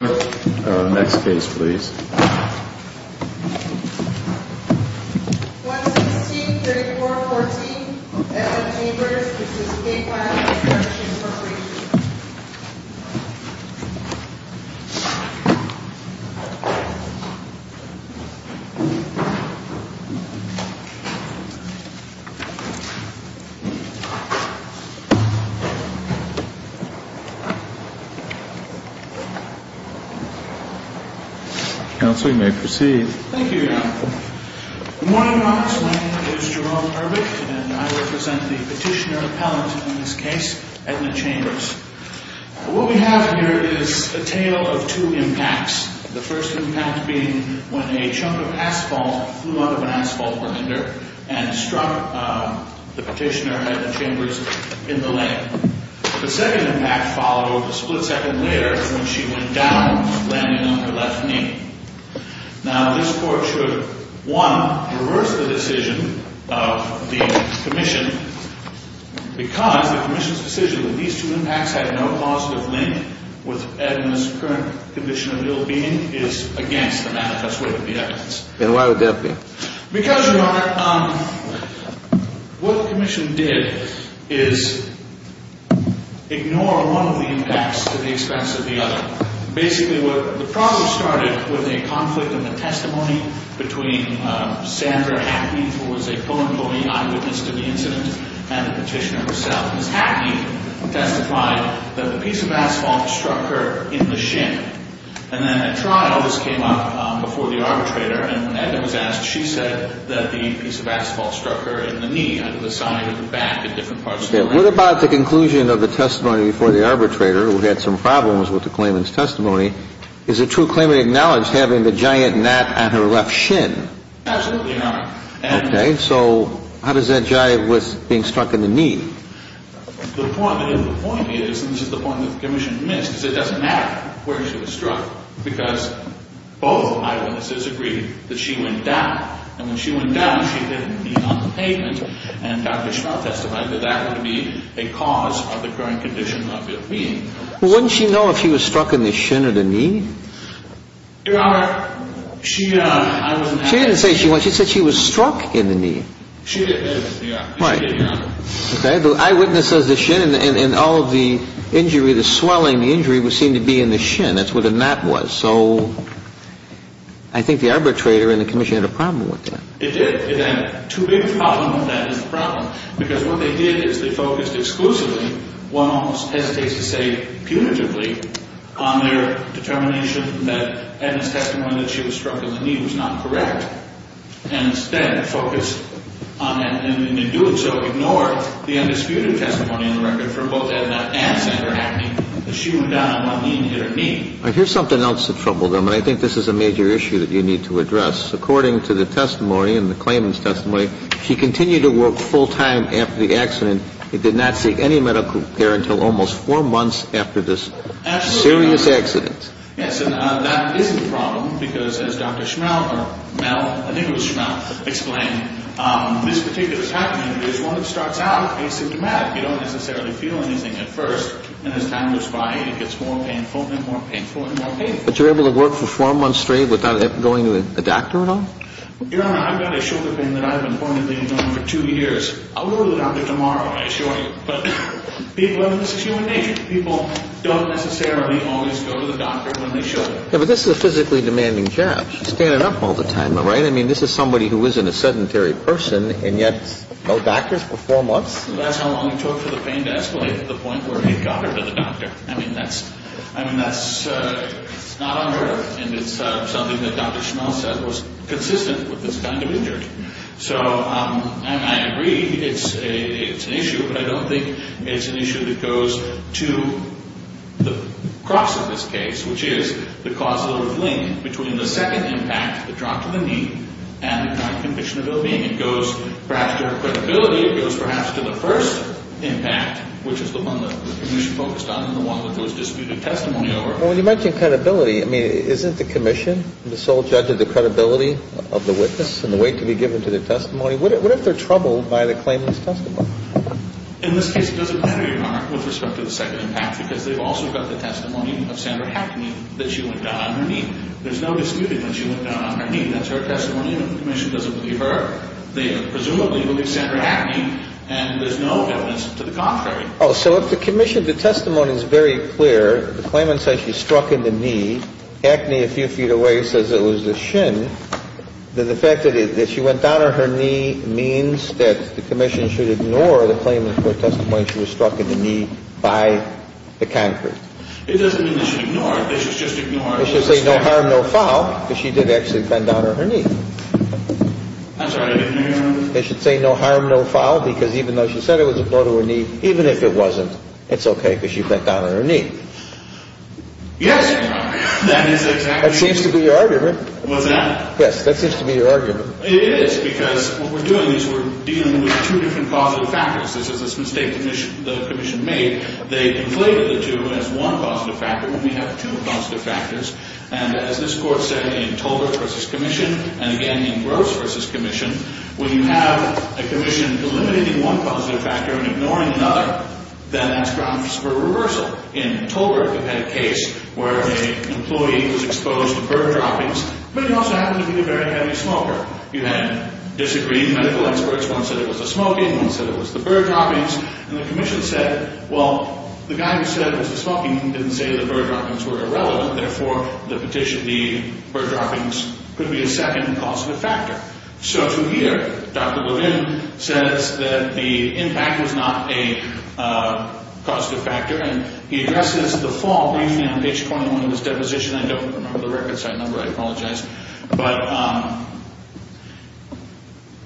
Next case, please. 116-3414, F.M. Chambers. This is a case filed in the Courtship Corporation. Counsel, you may proceed. Thank you, Your Honor. Good morning, Your Honor. My name is Jerome Irvick, and I represent the petitioner appellant in this case, Edna Chambers. What we have here is a tale of two impacts. The first impact being when a chunk of asphalt flew out of an asphalt grinder and struck the petitioner, Edna Chambers, in the leg. The second impact followed a split second later when she went down, landing on her left knee. Now, this Court should, one, reverse the decision of the Commission, because the Commission's decision that these two impacts had no positive link with Edna's current condition of ill-being is against the manifest way of the evidence. And why would that be? Because, Your Honor, what the Commission did is ignore one of the impacts to the expense of the other. Basically, the problem started with a conflict in the testimony between Sandra Hackney, who was a co-employee, eyewitness to the incident, and the petitioner herself. Ms. Hackney testified that the piece of asphalt struck her in the shin. And then at trial, this came up before the arbitrator, and when Edna was asked, she said that the piece of asphalt struck her in the knee, either the side or the back or different parts of the leg. What about the conclusion of the testimony before the arbitrator, who had some problems with the claimant's testimony? Is the true claimant acknowledged having the giant gnat on her left shin? Absolutely, Your Honor. Okay. So how does that jive with being struck in the knee? The point is, and this is the point that the Commission missed, is it doesn't matter where she was struck, because both eyewitnesses agreed that she went down. And when she went down, she hit her knee on the pavement. And Dr. Schnell testified that that would be a cause of the current condition of ill-being. Well, wouldn't she know if she was struck in the shin or the knee? Your Honor, she, I wasn't asking. She didn't say she wasn't. She said she was struck in the knee. She didn't, Your Honor. Right. Okay. The eyewitness says the shin and all of the injury, the swelling, the injury, would seem to be in the shin. That's where the gnat was. So I think the arbitrator and the Commission had a problem with that. It did. It had two big problems, and that is the problem, because what they did is they focused exclusively, one almost hesitates to say punitively, on their determination that Edna's testimony that she was struck in the knee was not correct. And instead focused on, and in doing so, ignored the undisputed testimony on the record for both Edna and Senator Hackney, that she went down on one knee and hit her knee. All right. Here's something else that troubled him, and I think this is a major issue that you need to address. According to the testimony and the claimant's testimony, she continued to work full time after the accident and did not seek any medical care until almost four months after this serious accident. Yes, and that is a problem, because as Dr. Schmelt or Mel, I think it was Schmelt, explained, this particular type of injury is one that starts out asymptomatic. You don't necessarily feel anything at first, and as time goes by, it gets more painful and more painful and more painful. But you're able to work for four months straight without ever going to a doctor at all? Your Honor, I've got a shoulder pain that I've been pointedly known for two years. I'll go to the doctor tomorrow, I assure you. But people have this human nature. People don't necessarily always go to the doctor when they show up. Yeah, but this is a physically demanding job. She's standing up all the time, all right? I mean, this is somebody who isn't a sedentary person, and yet no doctors for four months? That's how long it took for the pain to escalate to the point where it got her to the doctor. I mean, that's not unheard of, and it's something that Dr. Schmelt said was consistent with this kind of injury. And I agree it's an issue, but I don't think it's an issue that goes to the cross of this case, which is the causal link between the second impact, the drop to the knee, and the current condition of ill-being. It goes perhaps to her credibility. It goes perhaps to the first impact, which is the one that the Commission focused on and the one that there was disputed testimony over. Well, when you mention credibility, I mean, isn't the Commission the sole judge of the credibility of the witness and the weight to be given to the testimony? What if they're troubled by the claimant's testimony? In this case, it doesn't matter, Your Honor, with respect to the second impact because they've also got the testimony of Sandra Hackney that she went down on her knee. There's no disputing that she went down on her knee. That's her testimony. The Commission doesn't believe her. They presumably believe Sandra Hackney, and there's no evidence to the contrary. Oh, so if the Commission, the testimony is very clear, the claimant says she struck in the knee, Hackney, a few feet away, says it was the shin, then the fact that she went down on her knee means that the Commission should ignore the claimant's testimony that she was struck in the knee by the concrete. It doesn't mean they should ignore it. They should just ignore it. They should say no harm, no foul because she did actually bend down on her knee. I'm sorry. They should say no harm, no foul because even though she said it was a blow to her knee, even if it wasn't, it's okay because she bent down on her knee. Yes, Your Honor. That is exactly. That seems to be your argument. What's that? Yes, that seems to be your argument. It is because what we're doing is we're dealing with two different positive factors. This is a mistake the Commission made. They inflated the two as one positive factor when we have two positive factors, and as this Court said in Tolbert v. Commission and again in Gross v. Commission, when you have a Commission delimiting one positive factor and ignoring another, then that's grounds for reversal. In Tolbert, we had a case where an employee was exposed to bird droppings, but he also happened to be a very heavy smoker. You had disagreed medical experts. One said it was the smoking. One said it was the bird droppings, and the Commission said, well, the guy who said it was the smoking didn't say the bird droppings were irrelevant. Therefore, the petition, the bird droppings could be a second positive factor. So from here, Dr. Bowdoin says that the impact was not a positive factor, and he addresses the fault briefly on page 21 of his deposition. I don't remember the record site number. I apologize. But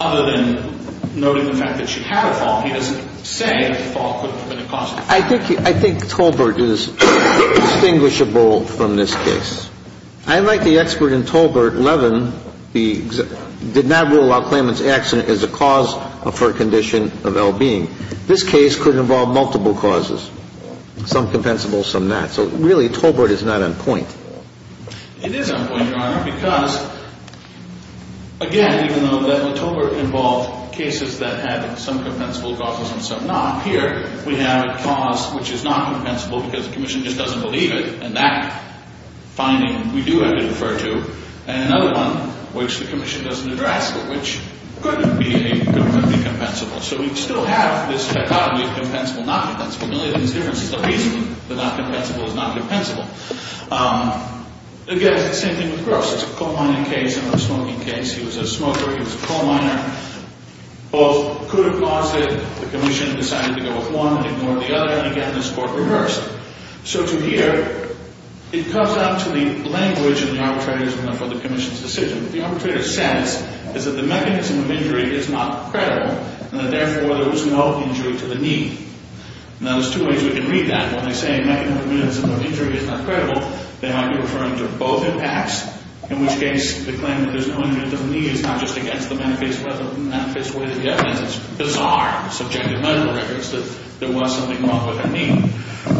other than noting the fact that she had a fault, he doesn't say the fault could have been a positive factor. I think Tolbert is distinguishable from this case. I, like the expert in Tolbert, Levin, did not rule out Klayman's accident as a cause for a condition of well-being. This case could involve multiple causes, some compensable, some not. So really Tolbert is not on point. It is on point, Your Honor, because, again, even though Tolbert involved cases that had some compensable causes and some not, here we have a cause which is not compensable because the Commission just doesn't believe it, and that finding we do have to refer to, and another one which the Commission doesn't address, but which could be a compensable. So we still have this dichotomy of compensable, not compensable. The only thing that's different is the reasoning that not compensable is not compensable. Again, it's the same thing with Gross. It's a coal mining case, another smoking case. He was a smoker. He was a coal miner. Both could have caused it. The Commission decided to go with one and ignore the other. And again, this court reversed. So to here, it comes down to the language of the arbitrators for the Commission's decision. What the arbitrator says is that the mechanism of injury is not credible and that, therefore, there was no injury to the knee. Now, there's two ways we can read that. When they say mechanism of injury is not credible, they might be referring to both impacts, in which case the claim that there's no injury to the knee is not just against the manifest way of the evidence. It's bizarre, subjective medical records that there was something wrong with her knee.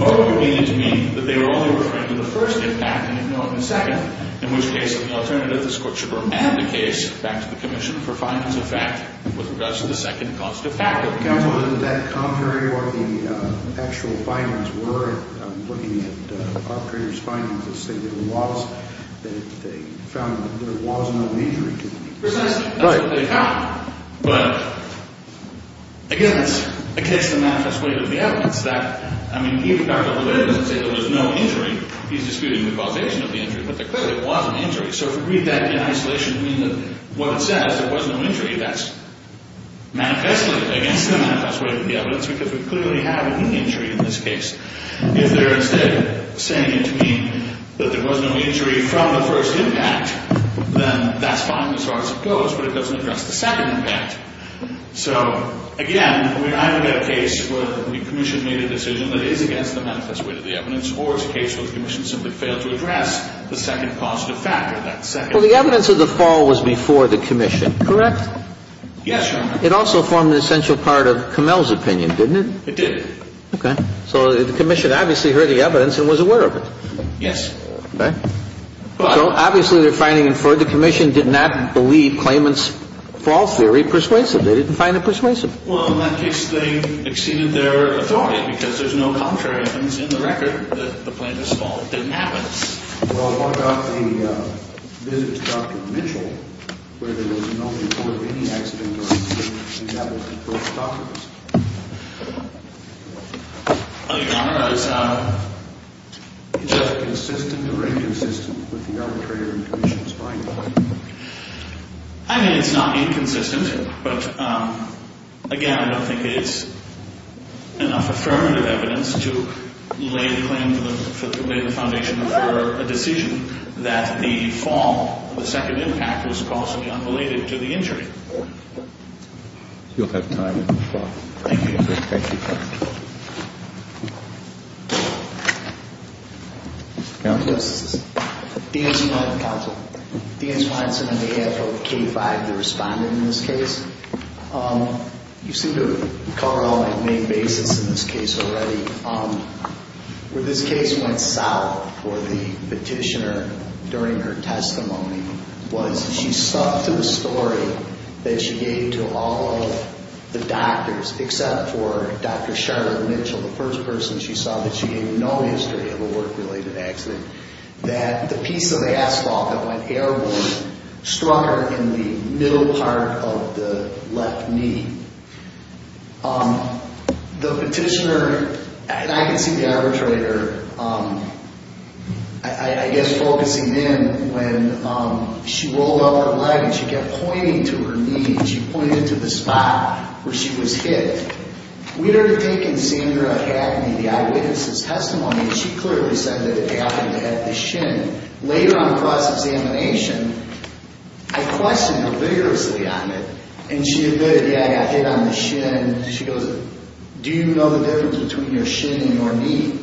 Or it would be to me that they were only referring to the first impact and ignoring the second, in which case the alternative, this court should remand the case back to the Commission for findings of fact with regards to the second cause to the fact. But, counsel, isn't that contrary to what the actual findings were? I'm looking at the arbitrator's findings that say there was no injury to the knee. Precisely. That's what they found. But, again, it's against the manifest way of the evidence. I mean, even if the arbitrator doesn't say there was no injury, he's disputing the causation of the injury, but there clearly was an injury. So if we read that in isolation, it means that what it says, there was no injury, that's manifestly against the manifest way of the evidence because we clearly have a knee injury in this case. If they're instead saying to me that there was no injury from the first impact, then that's fine as far as it goes, but it doesn't address the second impact. So, again, we either get a case where the Commission made a decision that is against the manifest way of the evidence or it's a case where the Commission simply failed to address the second cause to the fact or that second. Well, the evidence of the fall was before the Commission, correct? Yes, Your Honor. It also formed an essential part of Kummel's opinion, didn't it? It did. Okay. So the Commission obviously heard the evidence and was aware of it. Yes. Okay. So, obviously, they're finding it for the Commission did not believe Clayman's fall theory persuasive. They didn't find it persuasive. Well, in that case, they exceeded their authority because there's no contrary evidence in the record that the plaintiff's fall didn't happen. Well, what about the visit to Dr. Mitchell where there was no report of any accident or incident? Well, Your Honor, is that consistent or inconsistent with the arbitrator and the Commission's final claim? I mean, it's not inconsistent. But, again, I don't think it's enough affirmative evidence to lay the claim, lay the foundation for a decision that the fall, the second impact was possibly unrelated to the injury. You'll have time to respond. Thank you. Thank you. Counsel? Yes. Deans Wineson on behalf of K-5, the respondent in this case. You seem to recall all my main bases in this case already. Where this case went south for the petitioner during her testimony was she stuck to the story that she gave to all of the doctors, except for Dr. Charlotte Mitchell, the first person she saw that she gave no history of a work-related accident, that the piece of asphalt that went airborne struck her in the middle part of the left knee. The petitioner, and I can see the arbitrator, I guess, focusing in when she rolled up her leg and she kept pointing to her knee and she pointed to the spot where she was hit. We'd already taken Sandra Hackney, the eyewitness's testimony, and she clearly said that it happened at the shin. Later on in cross-examination, I questioned her vigorously on it, and she admitted, yeah, I got hit on the shin. She goes, do you know the difference between your shin and your knee?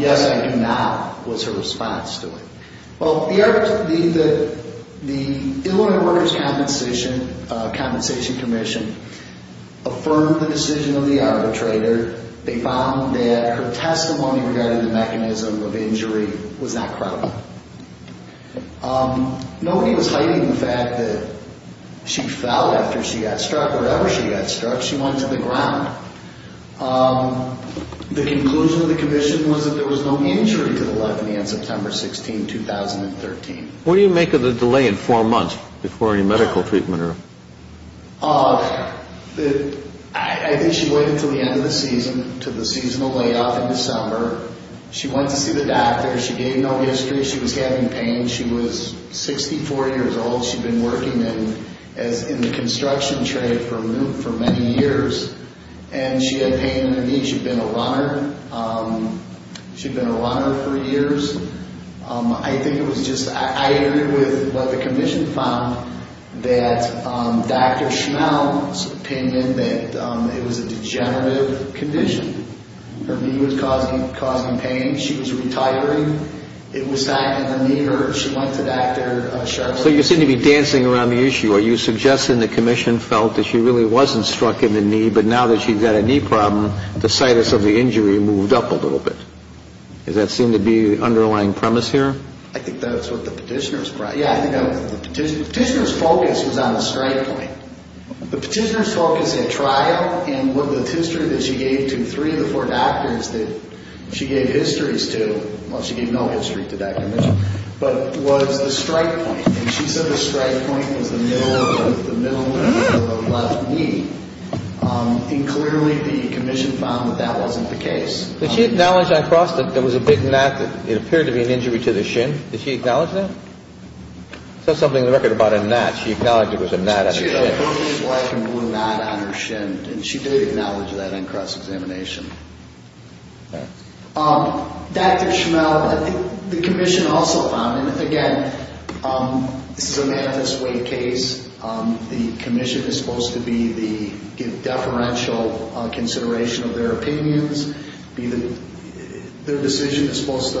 Yes, I do not, was her response to it. Well, the Illinois Workers' Compensation Commission affirmed the decision of the arbitrator. They found that her testimony regarding the mechanism of injury was not credible. Nobody was hiding the fact that she fell after she got struck. Whenever she got struck, she went to the ground. The conclusion of the commission was that there was no injury to the left knee on September 16, 2013. What do you make of the delay in four months before any medical treatment? I think she waited until the end of the season, until the seasonal layoff in December. She went to see the doctor. She gave no history. She was having pain. She was 64 years old. She'd been working in the construction trade for many years, and she had pain in her knee. She'd been a runner. She'd been a runner for years. I think it was just, I agree with what the commission found, that Dr. Schmeltz's opinion that it was a degenerative condition. Her knee was causing pain. She was retiring. It was not in the knee. She went to Dr. Schmeltz. So you seem to be dancing around the issue. Are you suggesting the commission felt that she really wasn't struck in the knee, but now that she's got a knee problem, the situs of the injury moved up a little bit? Does that seem to be the underlying premise here? I think that's what the petitioner's, yeah, I think the petitioner's focus was on the strike point. The petitioner's focus at trial and with the history that she gave to three of the four doctors that she gave histories to, well, she gave no history to Dr. Mitchell, but was the strike point. And she said the strike point was the middle of the left knee. And clearly the commission found that that wasn't the case. Did she acknowledge on cross that there was a big knot that it appeared to be an injury to the shin? Did she acknowledge that? It says something in the record about a knot. She acknowledged it was a knot on her shin. She had a big black and blue knot on her shin, and she did acknowledge that on cross-examination. Dr. Schmeltz, I think the commission also found, and again, this is a manifest way case. The commission is supposed to be the deferential consideration of their opinions. Their decision is supposed to,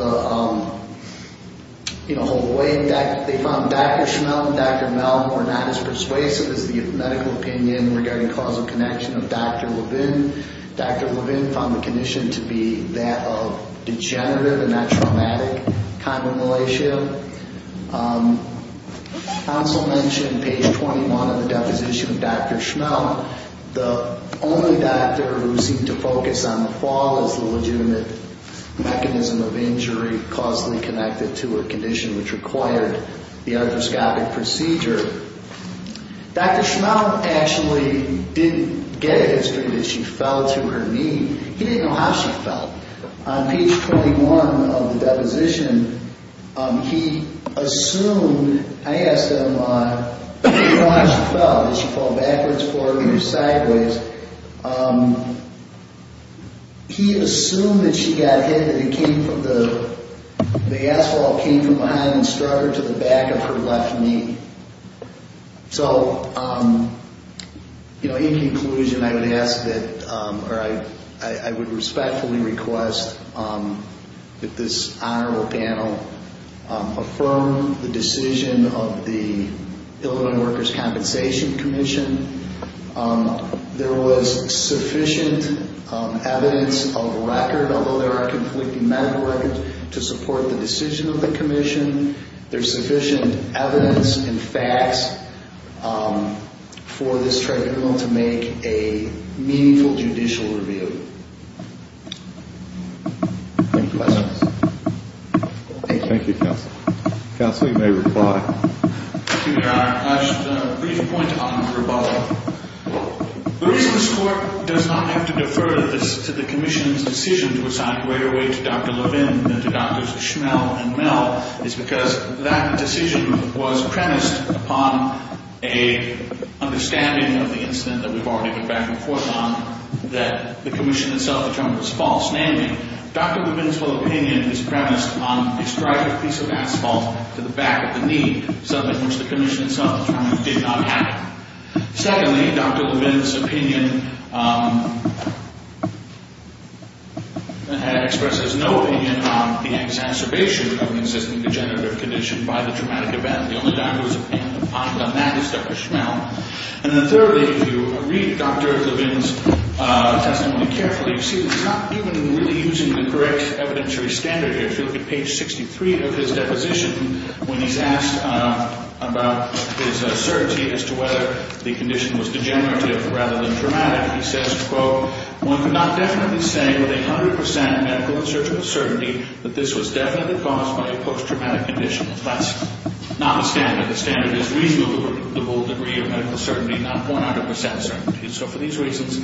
you know, hold the weight. They found Dr. Schmeltz and Dr. Mel were not as persuasive as the medical opinion regarding causal connection of Dr. Levin. Dr. Levin found the condition to be that of degenerative and not traumatic chondromalacia. Council mentioned page 21 of the deposition of Dr. Schmeltz. The only doctor who seemed to focus on the fall as the legitimate mechanism of injury causally connected to her condition, which required the arthroscopic procedure. Dr. Schmeltz actually didn't get it as good as she felt to her knee. He didn't know how she felt. On page 21 of the deposition, he assumed, I asked him how she felt. Did she fall backwards, forward, or sideways? He assumed that she got hit, that the asphalt came from behind and strutted to the back of her left knee. So, you know, in conclusion, I would ask that, or I would respectfully request that this honorable panel affirm the decision of the Illinois Workers' Compensation Commission. There was sufficient evidence of record, although there are conflicting medical records, to support the decision of the commission. There's sufficient evidence and facts for this tribunal to make a meaningful judicial review. Any questions? Thank you. Thank you, counsel. Counsel, you may reply. Thank you, Your Honor. I just have a brief point on the rebuttal. The reason this court does not have to defer this to the commission's decision to assign greater weight to Dr. Levin than to Drs. Schmeltz and Mel is because that decision was premised upon an understanding of the incident that we've already been back and forth on, that the commission itself determined was false. Namely, Dr. Levin's full opinion is premised upon a strident piece of asphalt to the back of the knee, something which the commission itself determined did not have. Secondly, Dr. Levin's opinion expresses no opinion on the exacerbation of an existing degenerative condition by the traumatic event. The only doctor's opinion upon that is Dr. Schmeltz. And then thirdly, if you read Dr. Levin's testimony carefully, you see that he's not even really using the correct evidentiary standard here. If you look at page 63 of his deposition, when he's asked about his certainty as to whether the condition was degenerative rather than traumatic, he says, quote, one could not definitely say with 100% medical and surgical certainty that this was definitely caused by a post-traumatic condition. That's not the standard. The standard is reasonable degree of medical certainty, not 100% certainty. So for these reasons,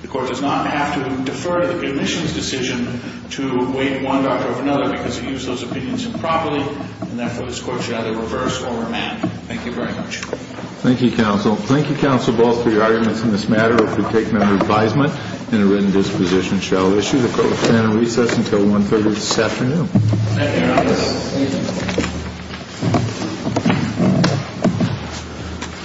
the Court does not have to defer to the commission's decision to weight one doctor over another because he used those opinions improperly. And therefore, this Court should either reverse or remand. Thank you very much. Thank you, counsel. Thank you, counsel, both for your arguments in this matter. If we take member advisement in a written disposition, shall issue the court's plan of recess until 1-30 this afternoon. Thank you, Your Honor. Thank you.